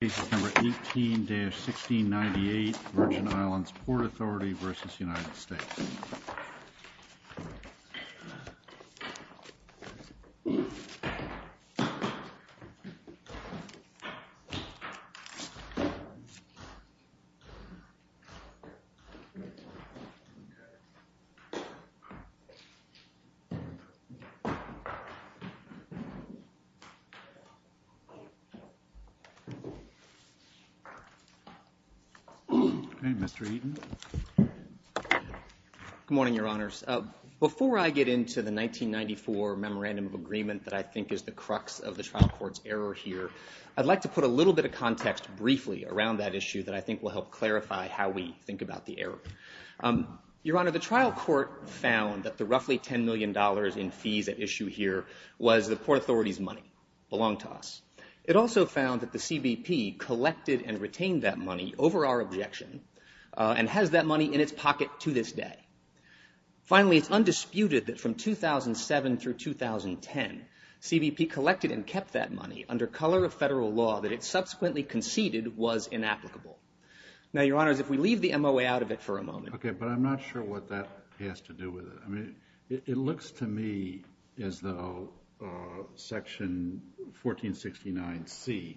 Case number 18-1698 Virgin Islands Port Authority v. United States Good morning, Your Honors. Before I get into the 1994 Memorandum of Agreement that I think is the crux of the trial court's error here, I'd like to put a little bit of context briefly around that issue that I think will help clarify how we think about the error. Your Honor, the trial court found that the roughly $10 million in fees at issue here was the Port collected and retained that money over our objection and has that money in its pocket to this day. Finally, it's undisputed that from 2007 through 2010, CBP collected and kept that money under color of federal law that it subsequently conceded was inapplicable. Now, Your Honors, if we leave the MOA out of it for a moment. Okay, but I'm not sure what that has to do with it. I mean, it looks to me as though Section 1469C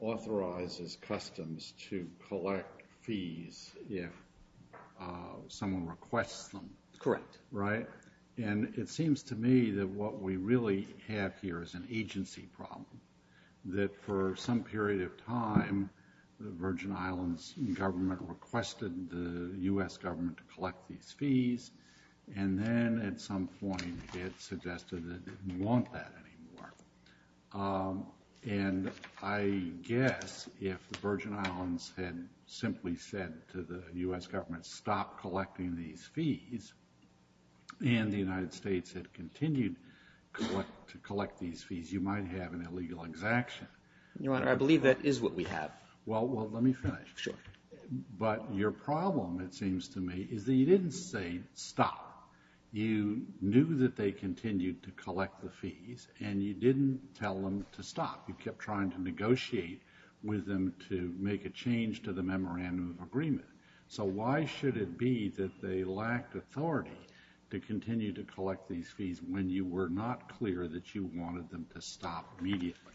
authorizes Customs to collect fees if someone requests them. Correct. Right? And it seems to me that what we really have here is an agency problem. That for some period of time, the Virgin Islands government requested the U.S. government to collect these fees, and then at some point, it suggested that it didn't want that anymore. And I guess if the Virgin Islands had simply said to the U.S. government, stop collecting these fees, and the United States had continued to collect these fees, you might have an illegal exaction. Your Honor, I believe that is what we Well, let me finish. Sure. But your problem, it seems to me, is that you didn't say stop. You knew that they continued to collect the fees, and you didn't tell them to stop. You kept trying to negotiate with them to make a change to the memorandum of agreement. So why should it be that they lacked authority to continue to collect these fees when you were not clear that you wanted them to stop immediately?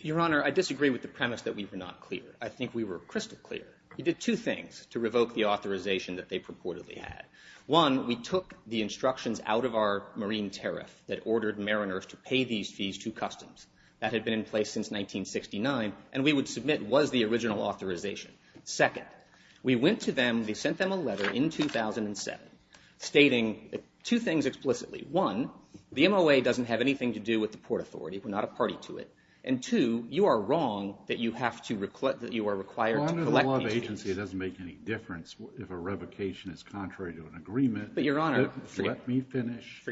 Your Honor, I disagree with the premise that we were not clear. I think we were crystal clear. We did two things to revoke the authorization that they purportedly had. One, we took the instructions out of our marine tariff that ordered mariners to pay these fees to customs. That had been in place since 1969, and we would submit was the original authorization. Second, we went to them. We sent them a letter in 2007 stating two things explicitly. One, the MOA doesn't have anything to do with the Port Authority. We're not a party to it. And two, you are wrong that you are required to collect these fees. Well, under the law of agency, it doesn't make any difference if a revocation is contrary to an agreement. But your Honor, let me finish.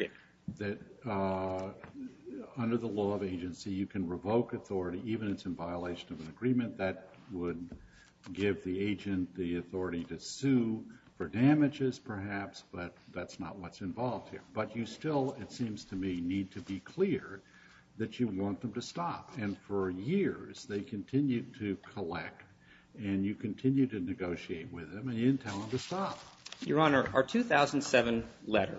Under the law of agency, you can revoke authority even if it's in violation of an agreement. That would give the agent the authority to sue for damages perhaps, but that's not what's to me need to be clear that you want them to stop. And for years, they continued to collect, and you continue to negotiate with them and you didn't tell them to stop. Your Honor, our 2007 letter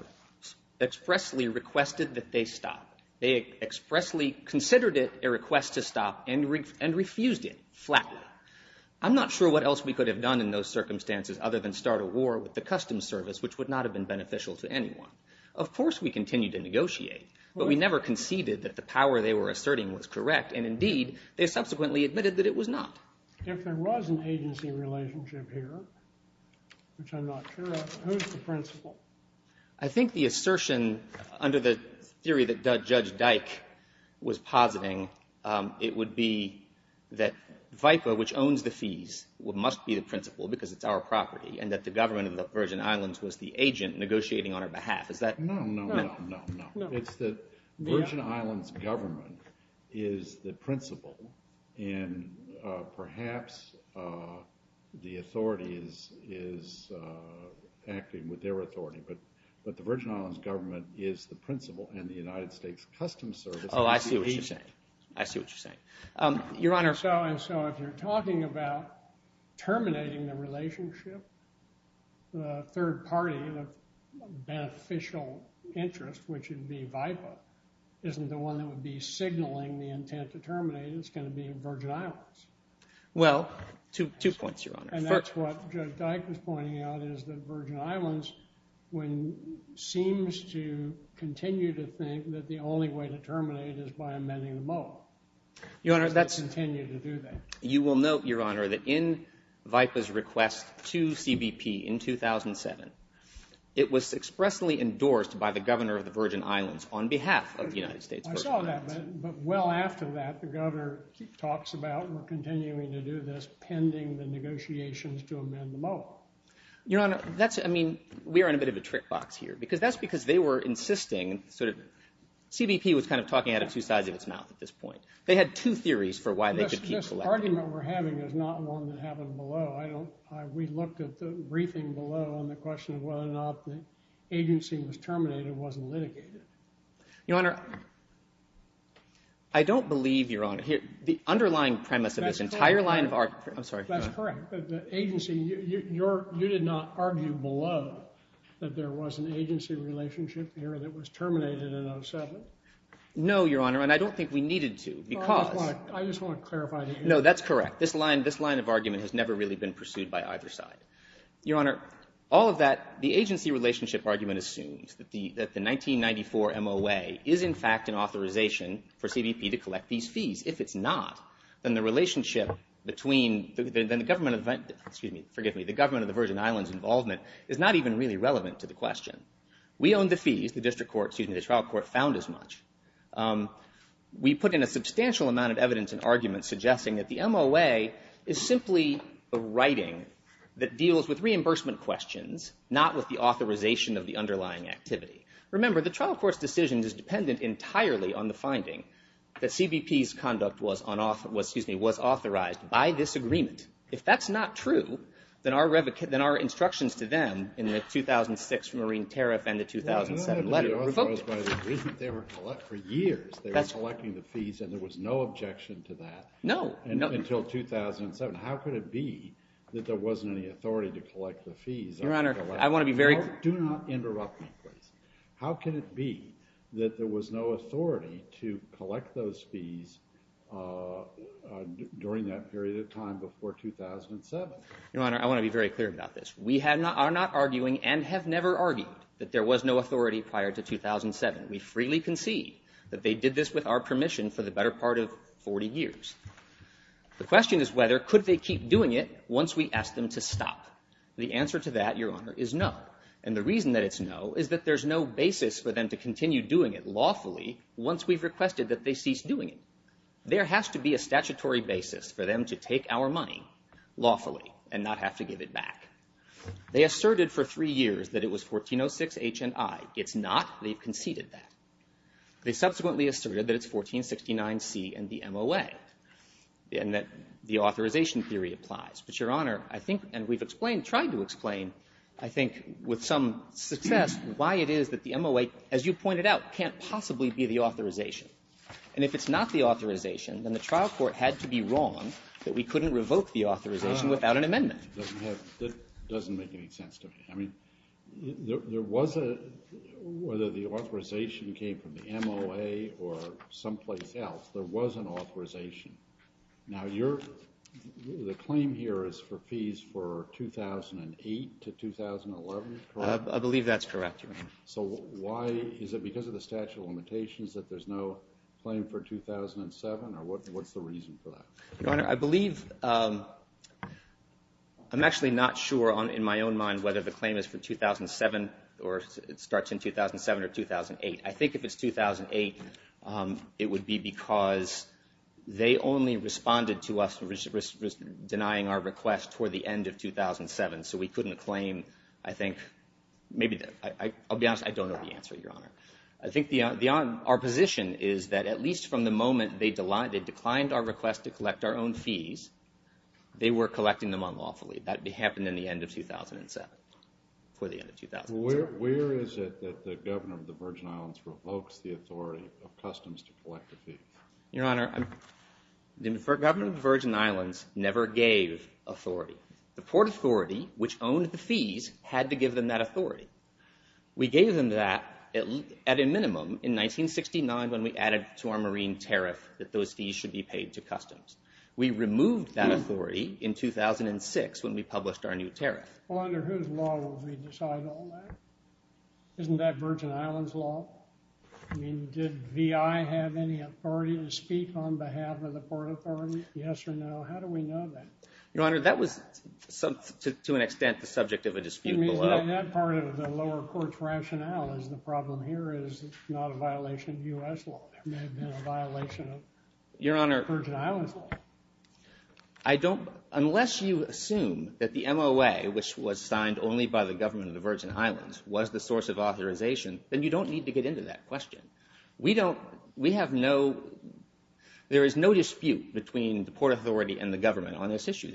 expressly requested that they stop. They expressly considered it a request to stop and refused it flatly. I'm not sure what else we could have done in those circumstances other than start a war with the Customs Service, which would not have been beneficial to anyone. Of course, we continued to negotiate, but we never conceded that the power they were asserting was correct. And indeed, they subsequently admitted that it was not. If there was an agency relationship here, which I'm not sure of, who's the principal? I think the assertion under the theory that Judge Dyke was positing, it would be that VIPA, which owns the fees, must be the principal because it's our property and that the government of the Virgin Islands was the agent negotiating on our behalf. No, no, no, no, no. It's that the Virgin Islands government is the principal and perhaps the authorities is acting with their authority, but the Virgin Islands government is the principal and the United States Customs Service is the agent. Oh, I see what you're saying. I see what you're saying. Your Honor. And so if you're talking about terminating the relationship, the third party, beneficial interest, which would be VIPA, isn't the one that would be signaling the intent to terminate. It's going to be in Virgin Islands. Well, two points, Your Honor. And that's what Judge Dyke was pointing out, is that Virgin Islands seems to continue to think that the only way to terminate is by amending the MOA. Your Honor, that's... You will note, Your Honor, that VIPA's request to CBP in 2007, it was expressly endorsed by the governor of the Virgin Islands on behalf of the United States. I saw that. But well after that, the governor talks about we're continuing to do this pending the negotiations to amend the MOA. Your Honor, that's... I mean, we are in a bit of a trick box here because that's because they were insisting sort of... CBP was kind of talking out of two sides of its mouth at this point. They had two below. I don't... We looked at the briefing below on the question of whether or not the agency was terminated, wasn't litigated. Your Honor, I don't believe, Your Honor, here the underlying premise of this entire line of our... I'm sorry. That's correct. The agency, you did not argue below that there was an agency relationship here that was terminated in 2007. No, Your Honor, and I don't think we needed to because... I just want to clarify. No, that's correct. This line of argument has never really been pursued by either side. Your Honor, all of that, the agency relationship argument assumes that the 1994 MOA is in fact an authorization for CBP to collect these fees. If it's not, then the relationship between... Then the government of... Excuse me. Forgive me. The government of the Virgin Islands involvement is not even really relevant to the question. We own the fees. The district court, excuse me, the trial court found as much. We put in a substantial amount of evidence and argument suggesting that the MOA is simply a writing that deals with reimbursement questions, not with the authorization of the underlying activity. Remember, the trial court's decision is dependent entirely on the finding that CBP's conduct was authorized by this agreement. If that's not true, then our instructions to them in the 2006 marine tariff and the 2007 letter... They were authorized by the agreement. They were... For years, they were collecting the fees. Until 2007, how could it be that there wasn't any authority to collect the fees? Your Honor, I want to be very... Do not interrupt me, please. How can it be that there was no authority to collect those fees during that period of time before 2007? Your Honor, I want to be very clear about this. We are not arguing and have never argued that there was no authority prior to 2007. We freely concede that they did this with our permission for the better part of 40 years. The question is whether could they keep doing it once we ask them to stop. The answer to that, Your Honor, is no. And the reason that it's no is that there's no basis for them to continue doing it lawfully once we've requested that they cease doing it. There has to be a statutory basis for them to take our money lawfully and not have to give it back. They asserted for three years that it was 1406 H&I. It's not. They've conceded that. They subsequently asserted that it's 1469 C and the MOA and that the authorization theory applies. But, Your Honor, I think, and we've explained, tried to explain, I think, with some success, why it is that the MOA, as you pointed out, can't possibly be the authorization. And if it's not the authorization, then the trial court had to be wrong that we couldn't revoke the authorization without an amendment. That doesn't make any sense to me. I mean, there was a, whether the authorization came from the MOA or someplace else, there was an authorization. Now you're, the claim here is for fees for 2008 to 2011, correct? I believe that's correct, Your Honor. So why, is it because of the statute of limitations that there's no claim for 2007 or what's the reason for that? Your Honor, I believe, I'm actually not sure on, in my own mind, whether the claim is for 2007 or it starts in 2007 or 2008. I think if it's 2008, it would be because they only responded to us denying our request toward the end of 2007. So we couldn't claim, I think, maybe, I'll be honest, I don't know the answer, Your Honor. I think the, our position is that at least from the moment they declined our request to collect our own fees, they were collecting them unlawfully. That happened in the end of 2007, for the end of 2007. Where is it that the governor of the Virgin Islands revokes the authority of customs to collect the fees? Your Honor, the governor of the Virgin Islands never gave authority. The Port Authority, which owned the fees, had to give them that authority. We gave them that at a minimum in 1969 when we added to our marine tariff that those fees should be paid to customs. We removed that authority in 2006 when we published our new tariff. Well, under whose law will we decide all that? Isn't that Virgin Islands law? I mean, did VI have any authority to speak on behalf of the Port Authority? Yes or no? How do we know that? Your Honor, that was, to an extent, the subject of a dispute below. That part of the lower court's rationale is the problem here is it's not a violation of U.S. law. It may have been a violation of Virgin Islands law. I don't, unless you assume that the MOA, which was signed only by the government of the Virgin Highlands, was the source of authorization, then you don't need to get into that question. We don't, we have no, there is no dispute between the Port Authority and the government on this to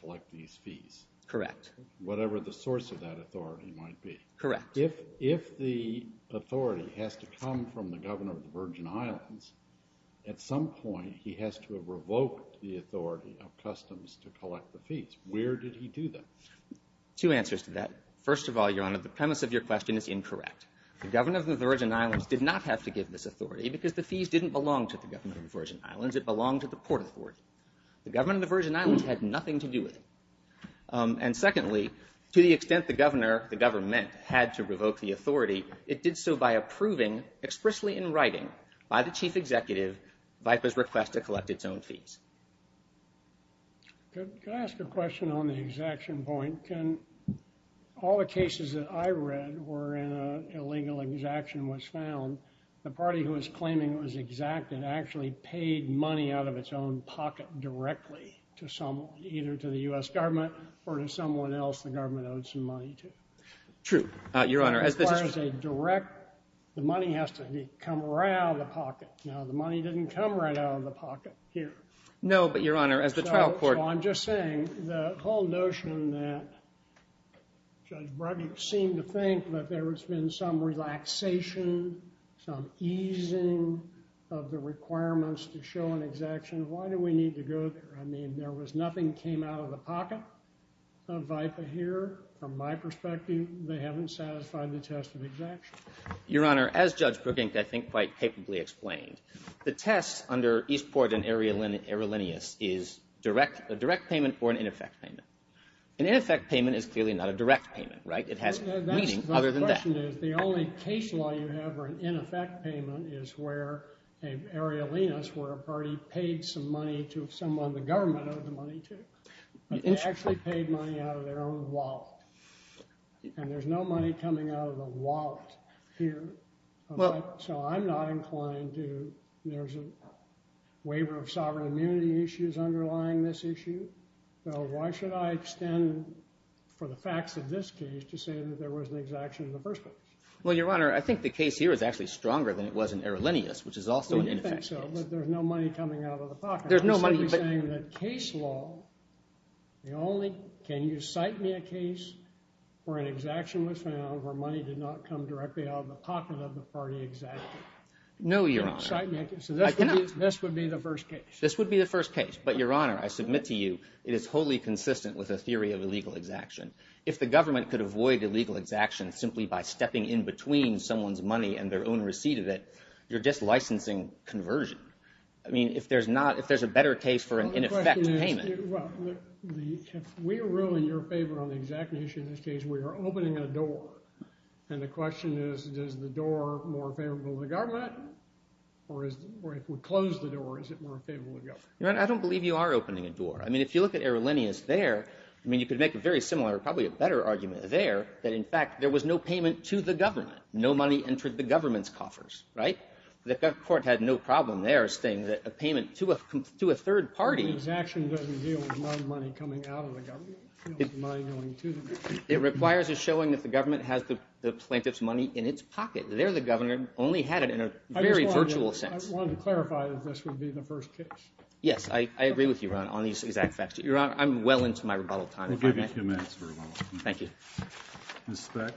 collect these fees. Correct. Whatever the source of that authority might be. Correct. If the authority has to come from the governor of the Virgin Highlands, at some point he has to have revoked the authority of customs to collect the fees. Where did he do that? Two answers to that. First of all, Your Honor, the premise of your question is incorrect. The governor of the Virgin Highlands did not have to give this authority because the fees didn't belong to the governor of the Virgin Highlands. It belonged to the Port Authority. The government of the Virgin Highlands had nothing to do with it. And secondly, to the extent the governor, the government, had to revoke the authority, it did so by approving, expressly in writing, by the chief executive, VIPA's request to collect its own fees. Could I ask a question on the exaction point? Can, all the cases that I read where an illegal exaction was found, the party who was claiming it was exacted actually paid money out of its pocket directly to someone, either to the U.S. government or to someone else the government owed some money to? True, Your Honor. As far as a direct, the money has to come right out of the pocket. Now, the money didn't come right out of the pocket here. No, but Your Honor, as the trial court... So I'm just saying, the whole notion that Judge Brugge seemed to think that there was nothing that came out of the pocket of VIPA here, from my perspective, they haven't satisfied the test of exaction. Your Honor, as Judge Brugge, I think, quite capably explained, the test under Eastport and Arialinus is a direct payment or an ineffect payment. An ineffect payment is clearly not a direct payment, right? It has meaning other than that. The only case law you have where an ineffect payment is where, Arialinus, where a party paid some money to someone the government owed the money to, but they actually paid money out of their own wallet. And there's no money coming out of the wallet here. So I'm not inclined to, there's a waiver of sovereign immunity issues underlying this issue. So why should I extend, for the facts of this case, to say that there was an exaction in the first place? Well, Your Honor, I think the case here is actually stronger than it was in Arialinus, which is also an ineffect case. But there's no money coming out of the pocket. There's no money. I'm simply saying that case law, the only, can you cite me a case where an exaction was found, where money did not come directly out of the pocket of the party exacted? No, Your Honor. So this would be the first case. This would be the first case. But, Your Honor, I submit to you, it is wholly consistent with a theory of illegal exaction. If the government could avoid illegal exaction simply by stepping in between someone's money and their own receipt of it, you're just licensing conversion. I mean, if there's not, if there's a better case for an ineffect payment. Well, the question is, if we're really in your favor on the exact issue in this case, we are opening a door. And the question is, is the door more favorable to the government? Or if we close the door, is it more favorable to government? Your Honor, I don't believe you are opening a door. I mean, if you look at Arialinus there, I mean, you could make a very similar, probably a better argument there, that in fact, there was no payment to the government. No money entered the government's coffers, right? The court had no problem there stating that a payment to a third party. The exaction doesn't deal with my money coming out of the government. It's my going to the government. It requires a showing that the government has the plaintiff's money in its pocket. There, the governor only had it in a very virtual sense. I just wanted to clarify that this would be the first case. Yes, I agree with you, Your Honor, on these exact facts. Your Honor, I'm well into my Thank you. Ms. Speck.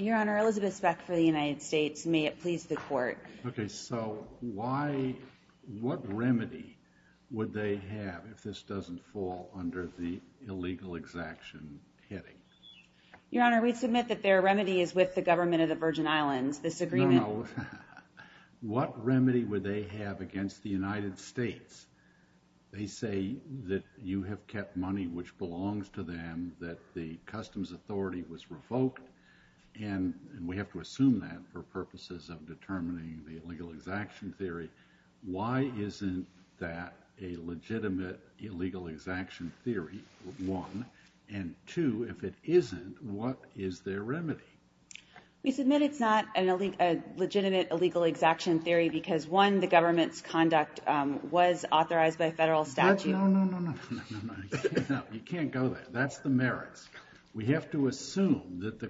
Your Honor, Elizabeth Speck for the United States. May it please the court. Okay, so why, what remedy would they have if this doesn't fall under the illegal exaction heading? Your Honor, we submit that their remedy is with the government of the Virgin Islands, this agreement. No, no. What remedy would they have against the United States? They say that you have kept money which belongs to them, that the customs authority was revoked, and we have to assume that for purposes of determining the illegal exaction theory. Why isn't that a legitimate illegal exaction theory, one? And two, if it isn't, what is their remedy? We submit it's not a legitimate illegal exaction theory because, one, the government's conduct was authorized by federal statute. No, no, no, no, no, no, no. You can't go there. That's the merits. We have to assume that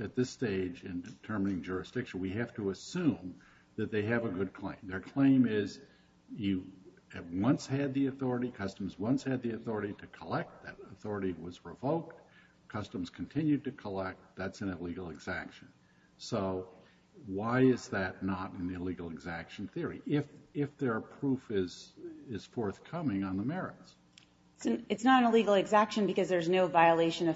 at this stage in determining jurisdiction, we have to assume that they have a good claim. Their claim is you once had the authority, customs once had the authority to collect, that authority was revoked, customs continued to collect, that's an illegal exaction. So why is that not an illegal exaction theory, if their proof is forthcoming on the violation of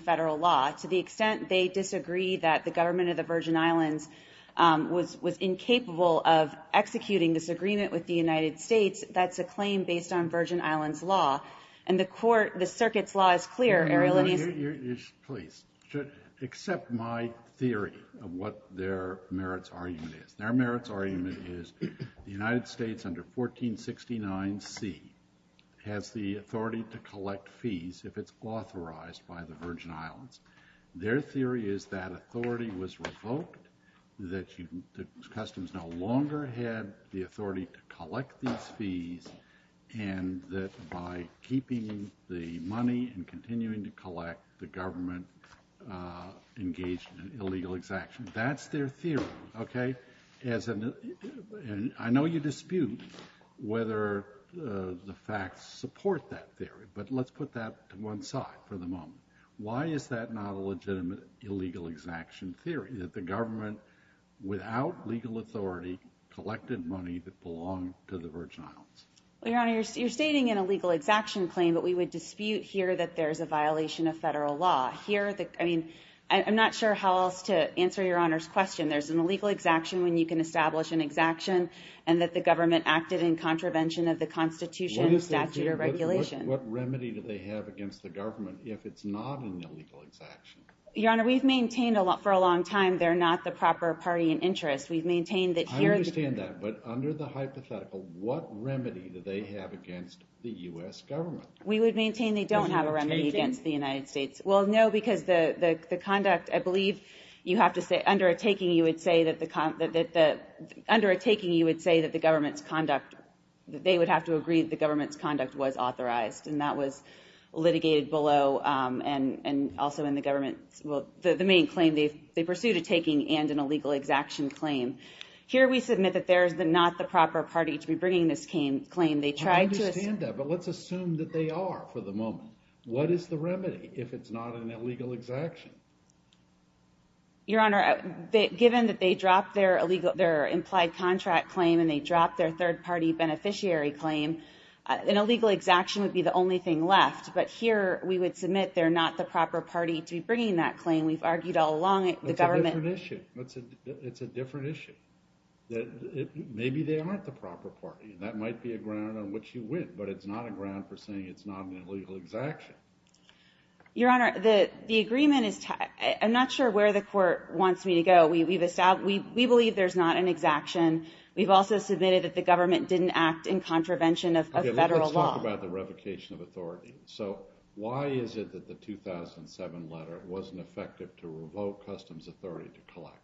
federal law? To the extent they disagree that the government of the Virgin Islands was incapable of executing this agreement with the United States, that's a claim based on Virgin Islands law. And the court, the circuit's law is clear. Please, accept my theory of what their merits argument is. Their merits argument is the United States under 1469C has the authority to collect fees if it's authorized by the Virgin Islands. Their theory is that authority was revoked, that customs no longer had the authority to collect these fees, and that by keeping the money and continuing to collect, the government engaged in an illegal exaction. That's their theory, okay? I know you dispute whether the facts support that theory, but let's put that to one side for the moment. Why is that not a legitimate illegal exaction theory, that the government without legal authority collected money that belonged to the Virgin Islands? Well, Your Honor, you're stating an illegal exaction claim, but we would dispute here that there's a violation of federal law. Here, I mean, I'm not sure how else to answer Your Honor's question. There's an illegal exaction when you can establish an exaction and that the government acted in contravention of the Constitution, statute, or regulation. What remedy do they have against the government if it's not an illegal exaction? Your Honor, we've maintained for a long time they're not the proper party in interest. We've maintained that here- I understand that, but under the hypothetical, what remedy do they have against the U.S. government? We would maintain they don't have a remedy against the United States. Is there a taking? Well, no, because the conduct, I believe you have to say, under a taking, you would say that the government's conduct, that they would have to agree that the government's conduct was authorized, and that was litigated below and also in the government, well, the main claim, they pursued a taking and an illegal exaction claim. Here, we submit that there's not the proper party to be bringing this claim. They tried to- I understand that, but let's assume that they are for the moment. What is the remedy if it's not an illegal exaction? Your Honor, given that they dropped their implied contract claim and they dropped their third party beneficiary claim, an illegal exaction would be the only thing left, but here we would submit they're not the proper party to be bringing that claim. We've argued all along the government- It's a different issue. It's a different issue. Maybe they aren't the proper party, and that might be a ground on which you win, but it's not a ground for saying it's not an exaction. Your Honor, the agreement is- I'm not sure where the court wants me to go. We believe there's not an exaction. We've also submitted that the government didn't act in contravention of federal law. Okay, let's talk about the revocation of authority. So why is it that the 2007 letter wasn't effective to revoke customs authority to collect?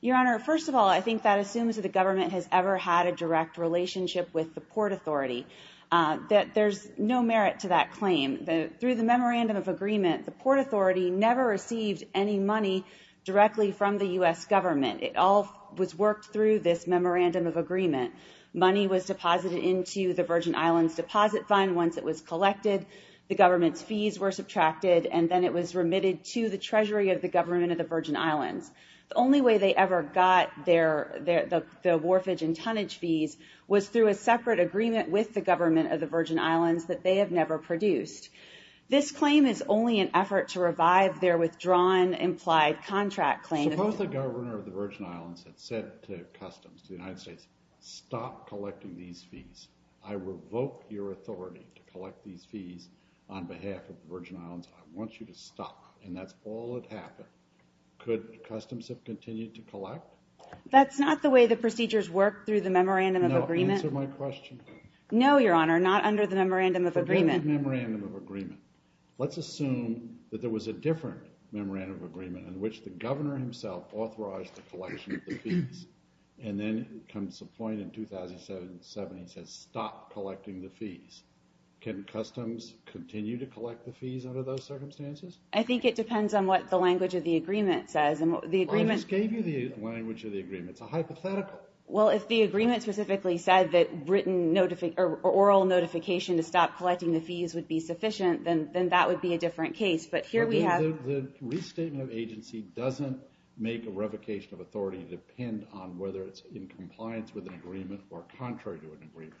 Your Honor, first of all, I think that assumes that the government has ever had a direct relationship with the Port Authority, that there's no merit to that claim. Through the memorandum of agreement, the Port Authority never received any money directly from the U.S. government. It all was worked through this memorandum of agreement. Money was deposited into the Virgin Islands Deposit Fund once it was collected. The government's fees were subtracted, and then it was remitted to the Treasury of the government of the Virgin Islands. The only way they ever got their fees was through a separate agreement with the government of the Virgin Islands that they have never produced. This claim is only an effort to revive their withdrawn implied contract claim. Suppose the governor of the Virgin Islands had said to customs, to the United States, stop collecting these fees. I revoke your authority to collect these fees on behalf of the Virgin Islands. I want you to stop, and that's all that happened. Could customs have continued to collect? That's not the way the procedures work through the memorandum of agreement. Answer my question. No, your honor, not under the memorandum of agreement. Forget the memorandum of agreement. Let's assume that there was a different memorandum of agreement in which the governor himself authorized the collection of the fees, and then comes a point in 2007, he says stop collecting the fees. Can customs continue to collect the fees under those circumstances? I think it depends on what the language of the agreement says. I just gave you the language of the agreement. It's a hypothetical. Well, if the agreement specifically said that oral notification to stop collecting the fees would be sufficient, then that would be a different case. But here we have... The restatement of agency doesn't make a revocation of authority depend on whether it's in compliance with an agreement or contrary to an agreement.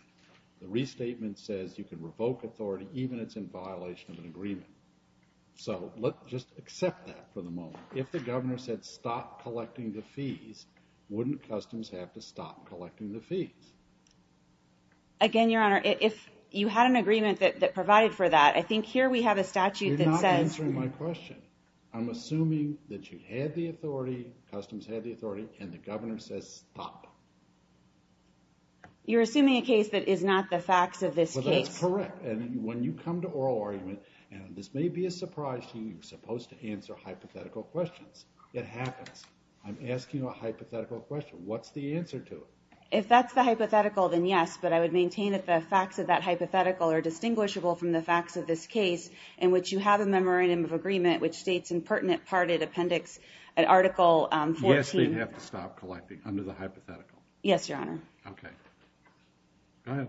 The restatement says you can revoke authority even if it's in violation of an agreement. So let's just accept that for the stop collecting the fees, wouldn't customs have to stop collecting the fees? Again, your honor, if you had an agreement that provided for that, I think here we have a statute that says... You're not answering my question. I'm assuming that you had the authority, customs had the authority, and the governor says stop. You're assuming a case that is not the facts of this case. Well, that's correct. And when you come to oral argument, and this may be a surprise to you, supposed to answer hypothetical questions. It happens. I'm asking a hypothetical question. What's the answer to it? If that's the hypothetical, then yes, but I would maintain that the facts of that hypothetical are distinguishable from the facts of this case in which you have a memorandum of agreement which states in pertinent parted appendix at article 14... Yes, they'd have to stop collecting under the hypothetical. Yes, your honor. Okay. Go ahead.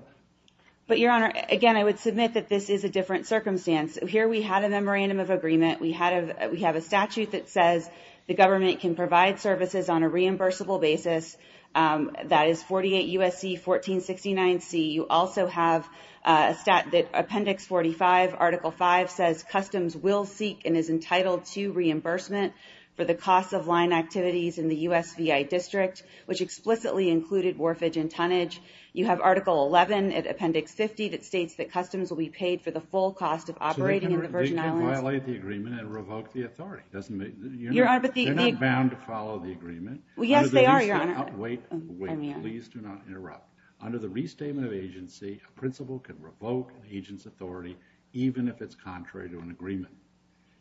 But your honor, again, I would submit that this is a different circumstance. Here we had a memorandum of agreement. We have a statute that says the government can provide services on a reimbursable basis. That is 48 U.S.C. 1469C. You also have a stat that appendix 45, article 5 says customs will seek and is entitled to reimbursement for the cost of line activities in the USVI district, which explicitly included warfage and tonnage. You have article 11 at appendix 50 that states that customs will be They can violate the agreement and revoke the authority. They're not bound to follow the agreement. Yes, they are, your honor. Wait, wait, please do not interrupt. Under the restatement of agency, a principal can revoke an agent's authority even if it's contrary to an agreement.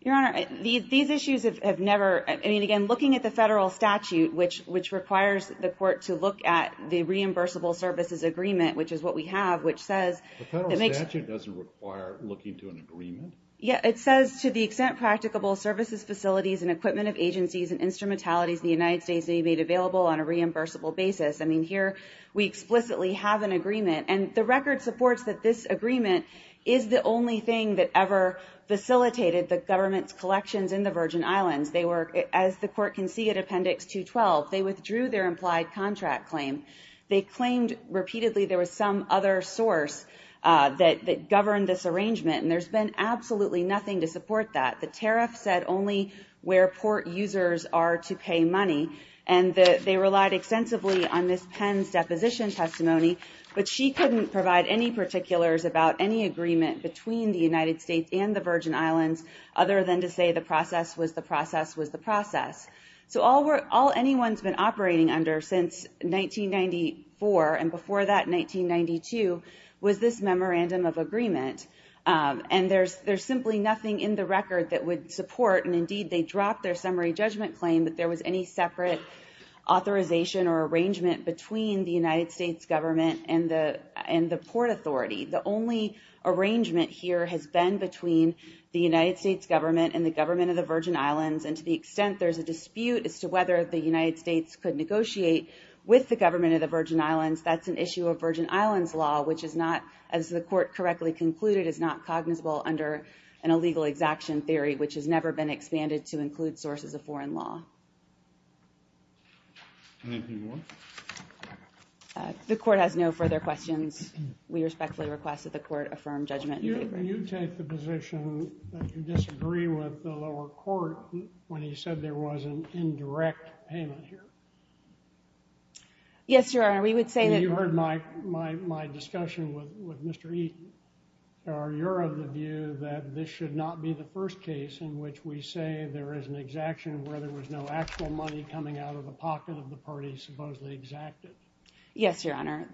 Your honor, these issues have never... I mean, again, looking at the federal statute, which requires the court to look at the reimbursable services agreement, which is what we have, which says... The federal statute doesn't require looking to an agreement. Yeah, it says to the extent practicable services facilities and equipment of agencies and instrumentalities in the United States may be made available on a reimbursable basis. I mean, here we explicitly have an agreement, and the record supports that this agreement is the only thing that ever facilitated the government's collections in the Virgin Islands. As the court can see at appendix 212, they withdrew their implied contract claim. They claimed repeatedly there was some other source that governed this arrangement, and there's been absolutely nothing to support that. The tariff said only where port users are to pay money, and they relied extensively on Ms. Penn's deposition testimony, but she couldn't provide any particulars about any agreement between the United States and the Virgin Islands other than to say the process was the process was the process. So all anyone's been operating under since 1994, and before that, 1992, was this memorandum of agreement. And there's simply nothing in the record that would support, and indeed, they dropped their summary judgment claim that there was any separate authorization or arrangement between the United States government and the port authority. The only arrangement here has been between the United States government and the government of the Virgin Islands, and to the extent there's a dispute as to whether the United States could negotiate with the government of the Virgin Islands, that's an issue of Virgin which is not, as the court correctly concluded, is not cognizable under an illegal exaction theory, which has never been expanded to include sources of foreign law. The court has no further questions. We respectfully request that the court affirm judgment. Do you take the position that you disagree with the lower court when he said there was an indirect payment here? Yes, Your Honor. We would say that... You heard my discussion with Mr. Eaton. Are you of the view that this should not be the first case in which we say there is an exaction where there was no actual money coming out of the pocket of the party supposedly exacted? Yes, Your Honor.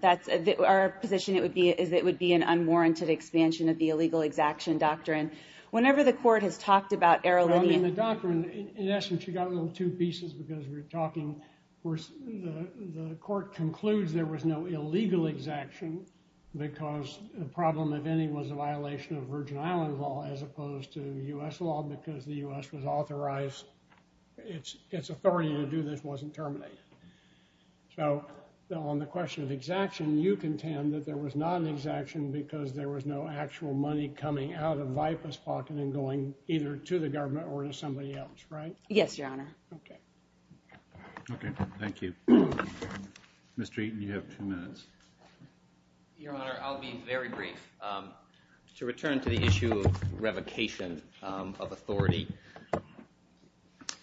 Our position is it would be an unwarranted expansion of the illegal exaction doctrine. Whenever the court has talked about the doctrine, in essence, you got a little two pieces because we're talking. The court concludes there was no illegal exaction because the problem, if any, was a violation of Virgin Islands law as opposed to U.S. law because the U.S. was authorized. Its authority to do this wasn't terminated. So on the question of exaction, you contend that there was not an exaction because there was no actual money coming out of VIPAS' pocket and going either to the government or to somebody else, right? Yes, Your Honor. Okay. Okay. Thank you. Mr. Eaton, you have two minutes. Your Honor, I'll be very brief. To return to the issue of revocation of authority,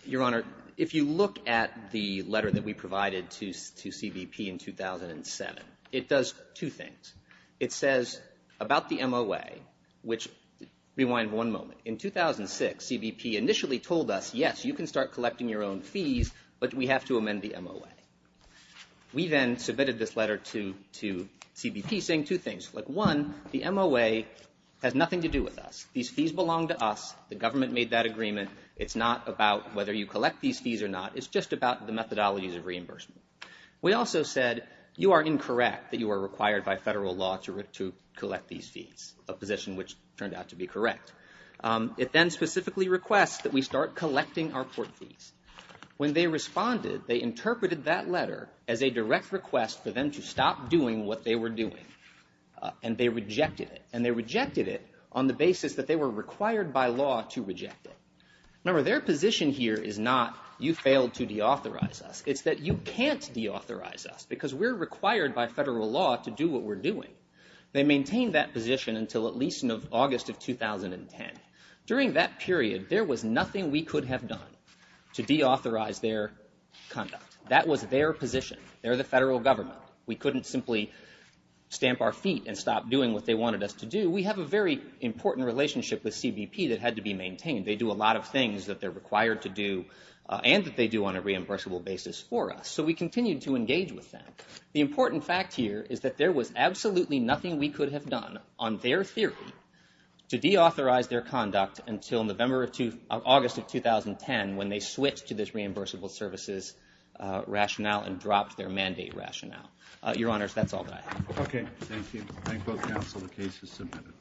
Your Honor, if you look at the letter that we provided to CBP in 2007, it does two things. It says about the MOA, which rewind one moment, in 2006, CBP initially told us, yes, you can start collecting your own fees, but we have to amend the MOA. We then submitted this letter to CBP saying two things. Look, one, the MOA has nothing to do with us. These fees belong to us. The government made that agreement. It's not about whether you collect these fees or not. It's just about the methodologies of reimbursement. We also said you are incorrect that you are required by federal law to collect these fees, a position which turned out to be correct. It then specifically requests that we start collecting our port fees. When they responded, they interpreted that letter as a direct request for them to stop doing what they were doing, and they rejected it, and they rejected it on the basis that they were required by law to reject it. Remember, their position here is not you failed to deauthorize us. It's that you can't deauthorize us because we're required by federal law to do what we're doing. They maintained that position until at least in August of 2010. During that period, there was nothing we could have done to deauthorize their conduct. That was their position. They're the federal government. We couldn't simply stamp our feet and stop doing what they wanted us to do. We have a very important relationship with CBP that had to be maintained. They do a lot of things that they're required to do, and that they do on a reimbursable basis for us, so we continued to engage with them. The important fact here is that there was absolutely nothing we could have done on their theory to deauthorize their conduct until August of 2010 when they switched to this reimbursable services rationale and dropped their mandate rationale. Your Honors, that's all that I have. Okay, thank you. Thank both counsel. The case is submitted.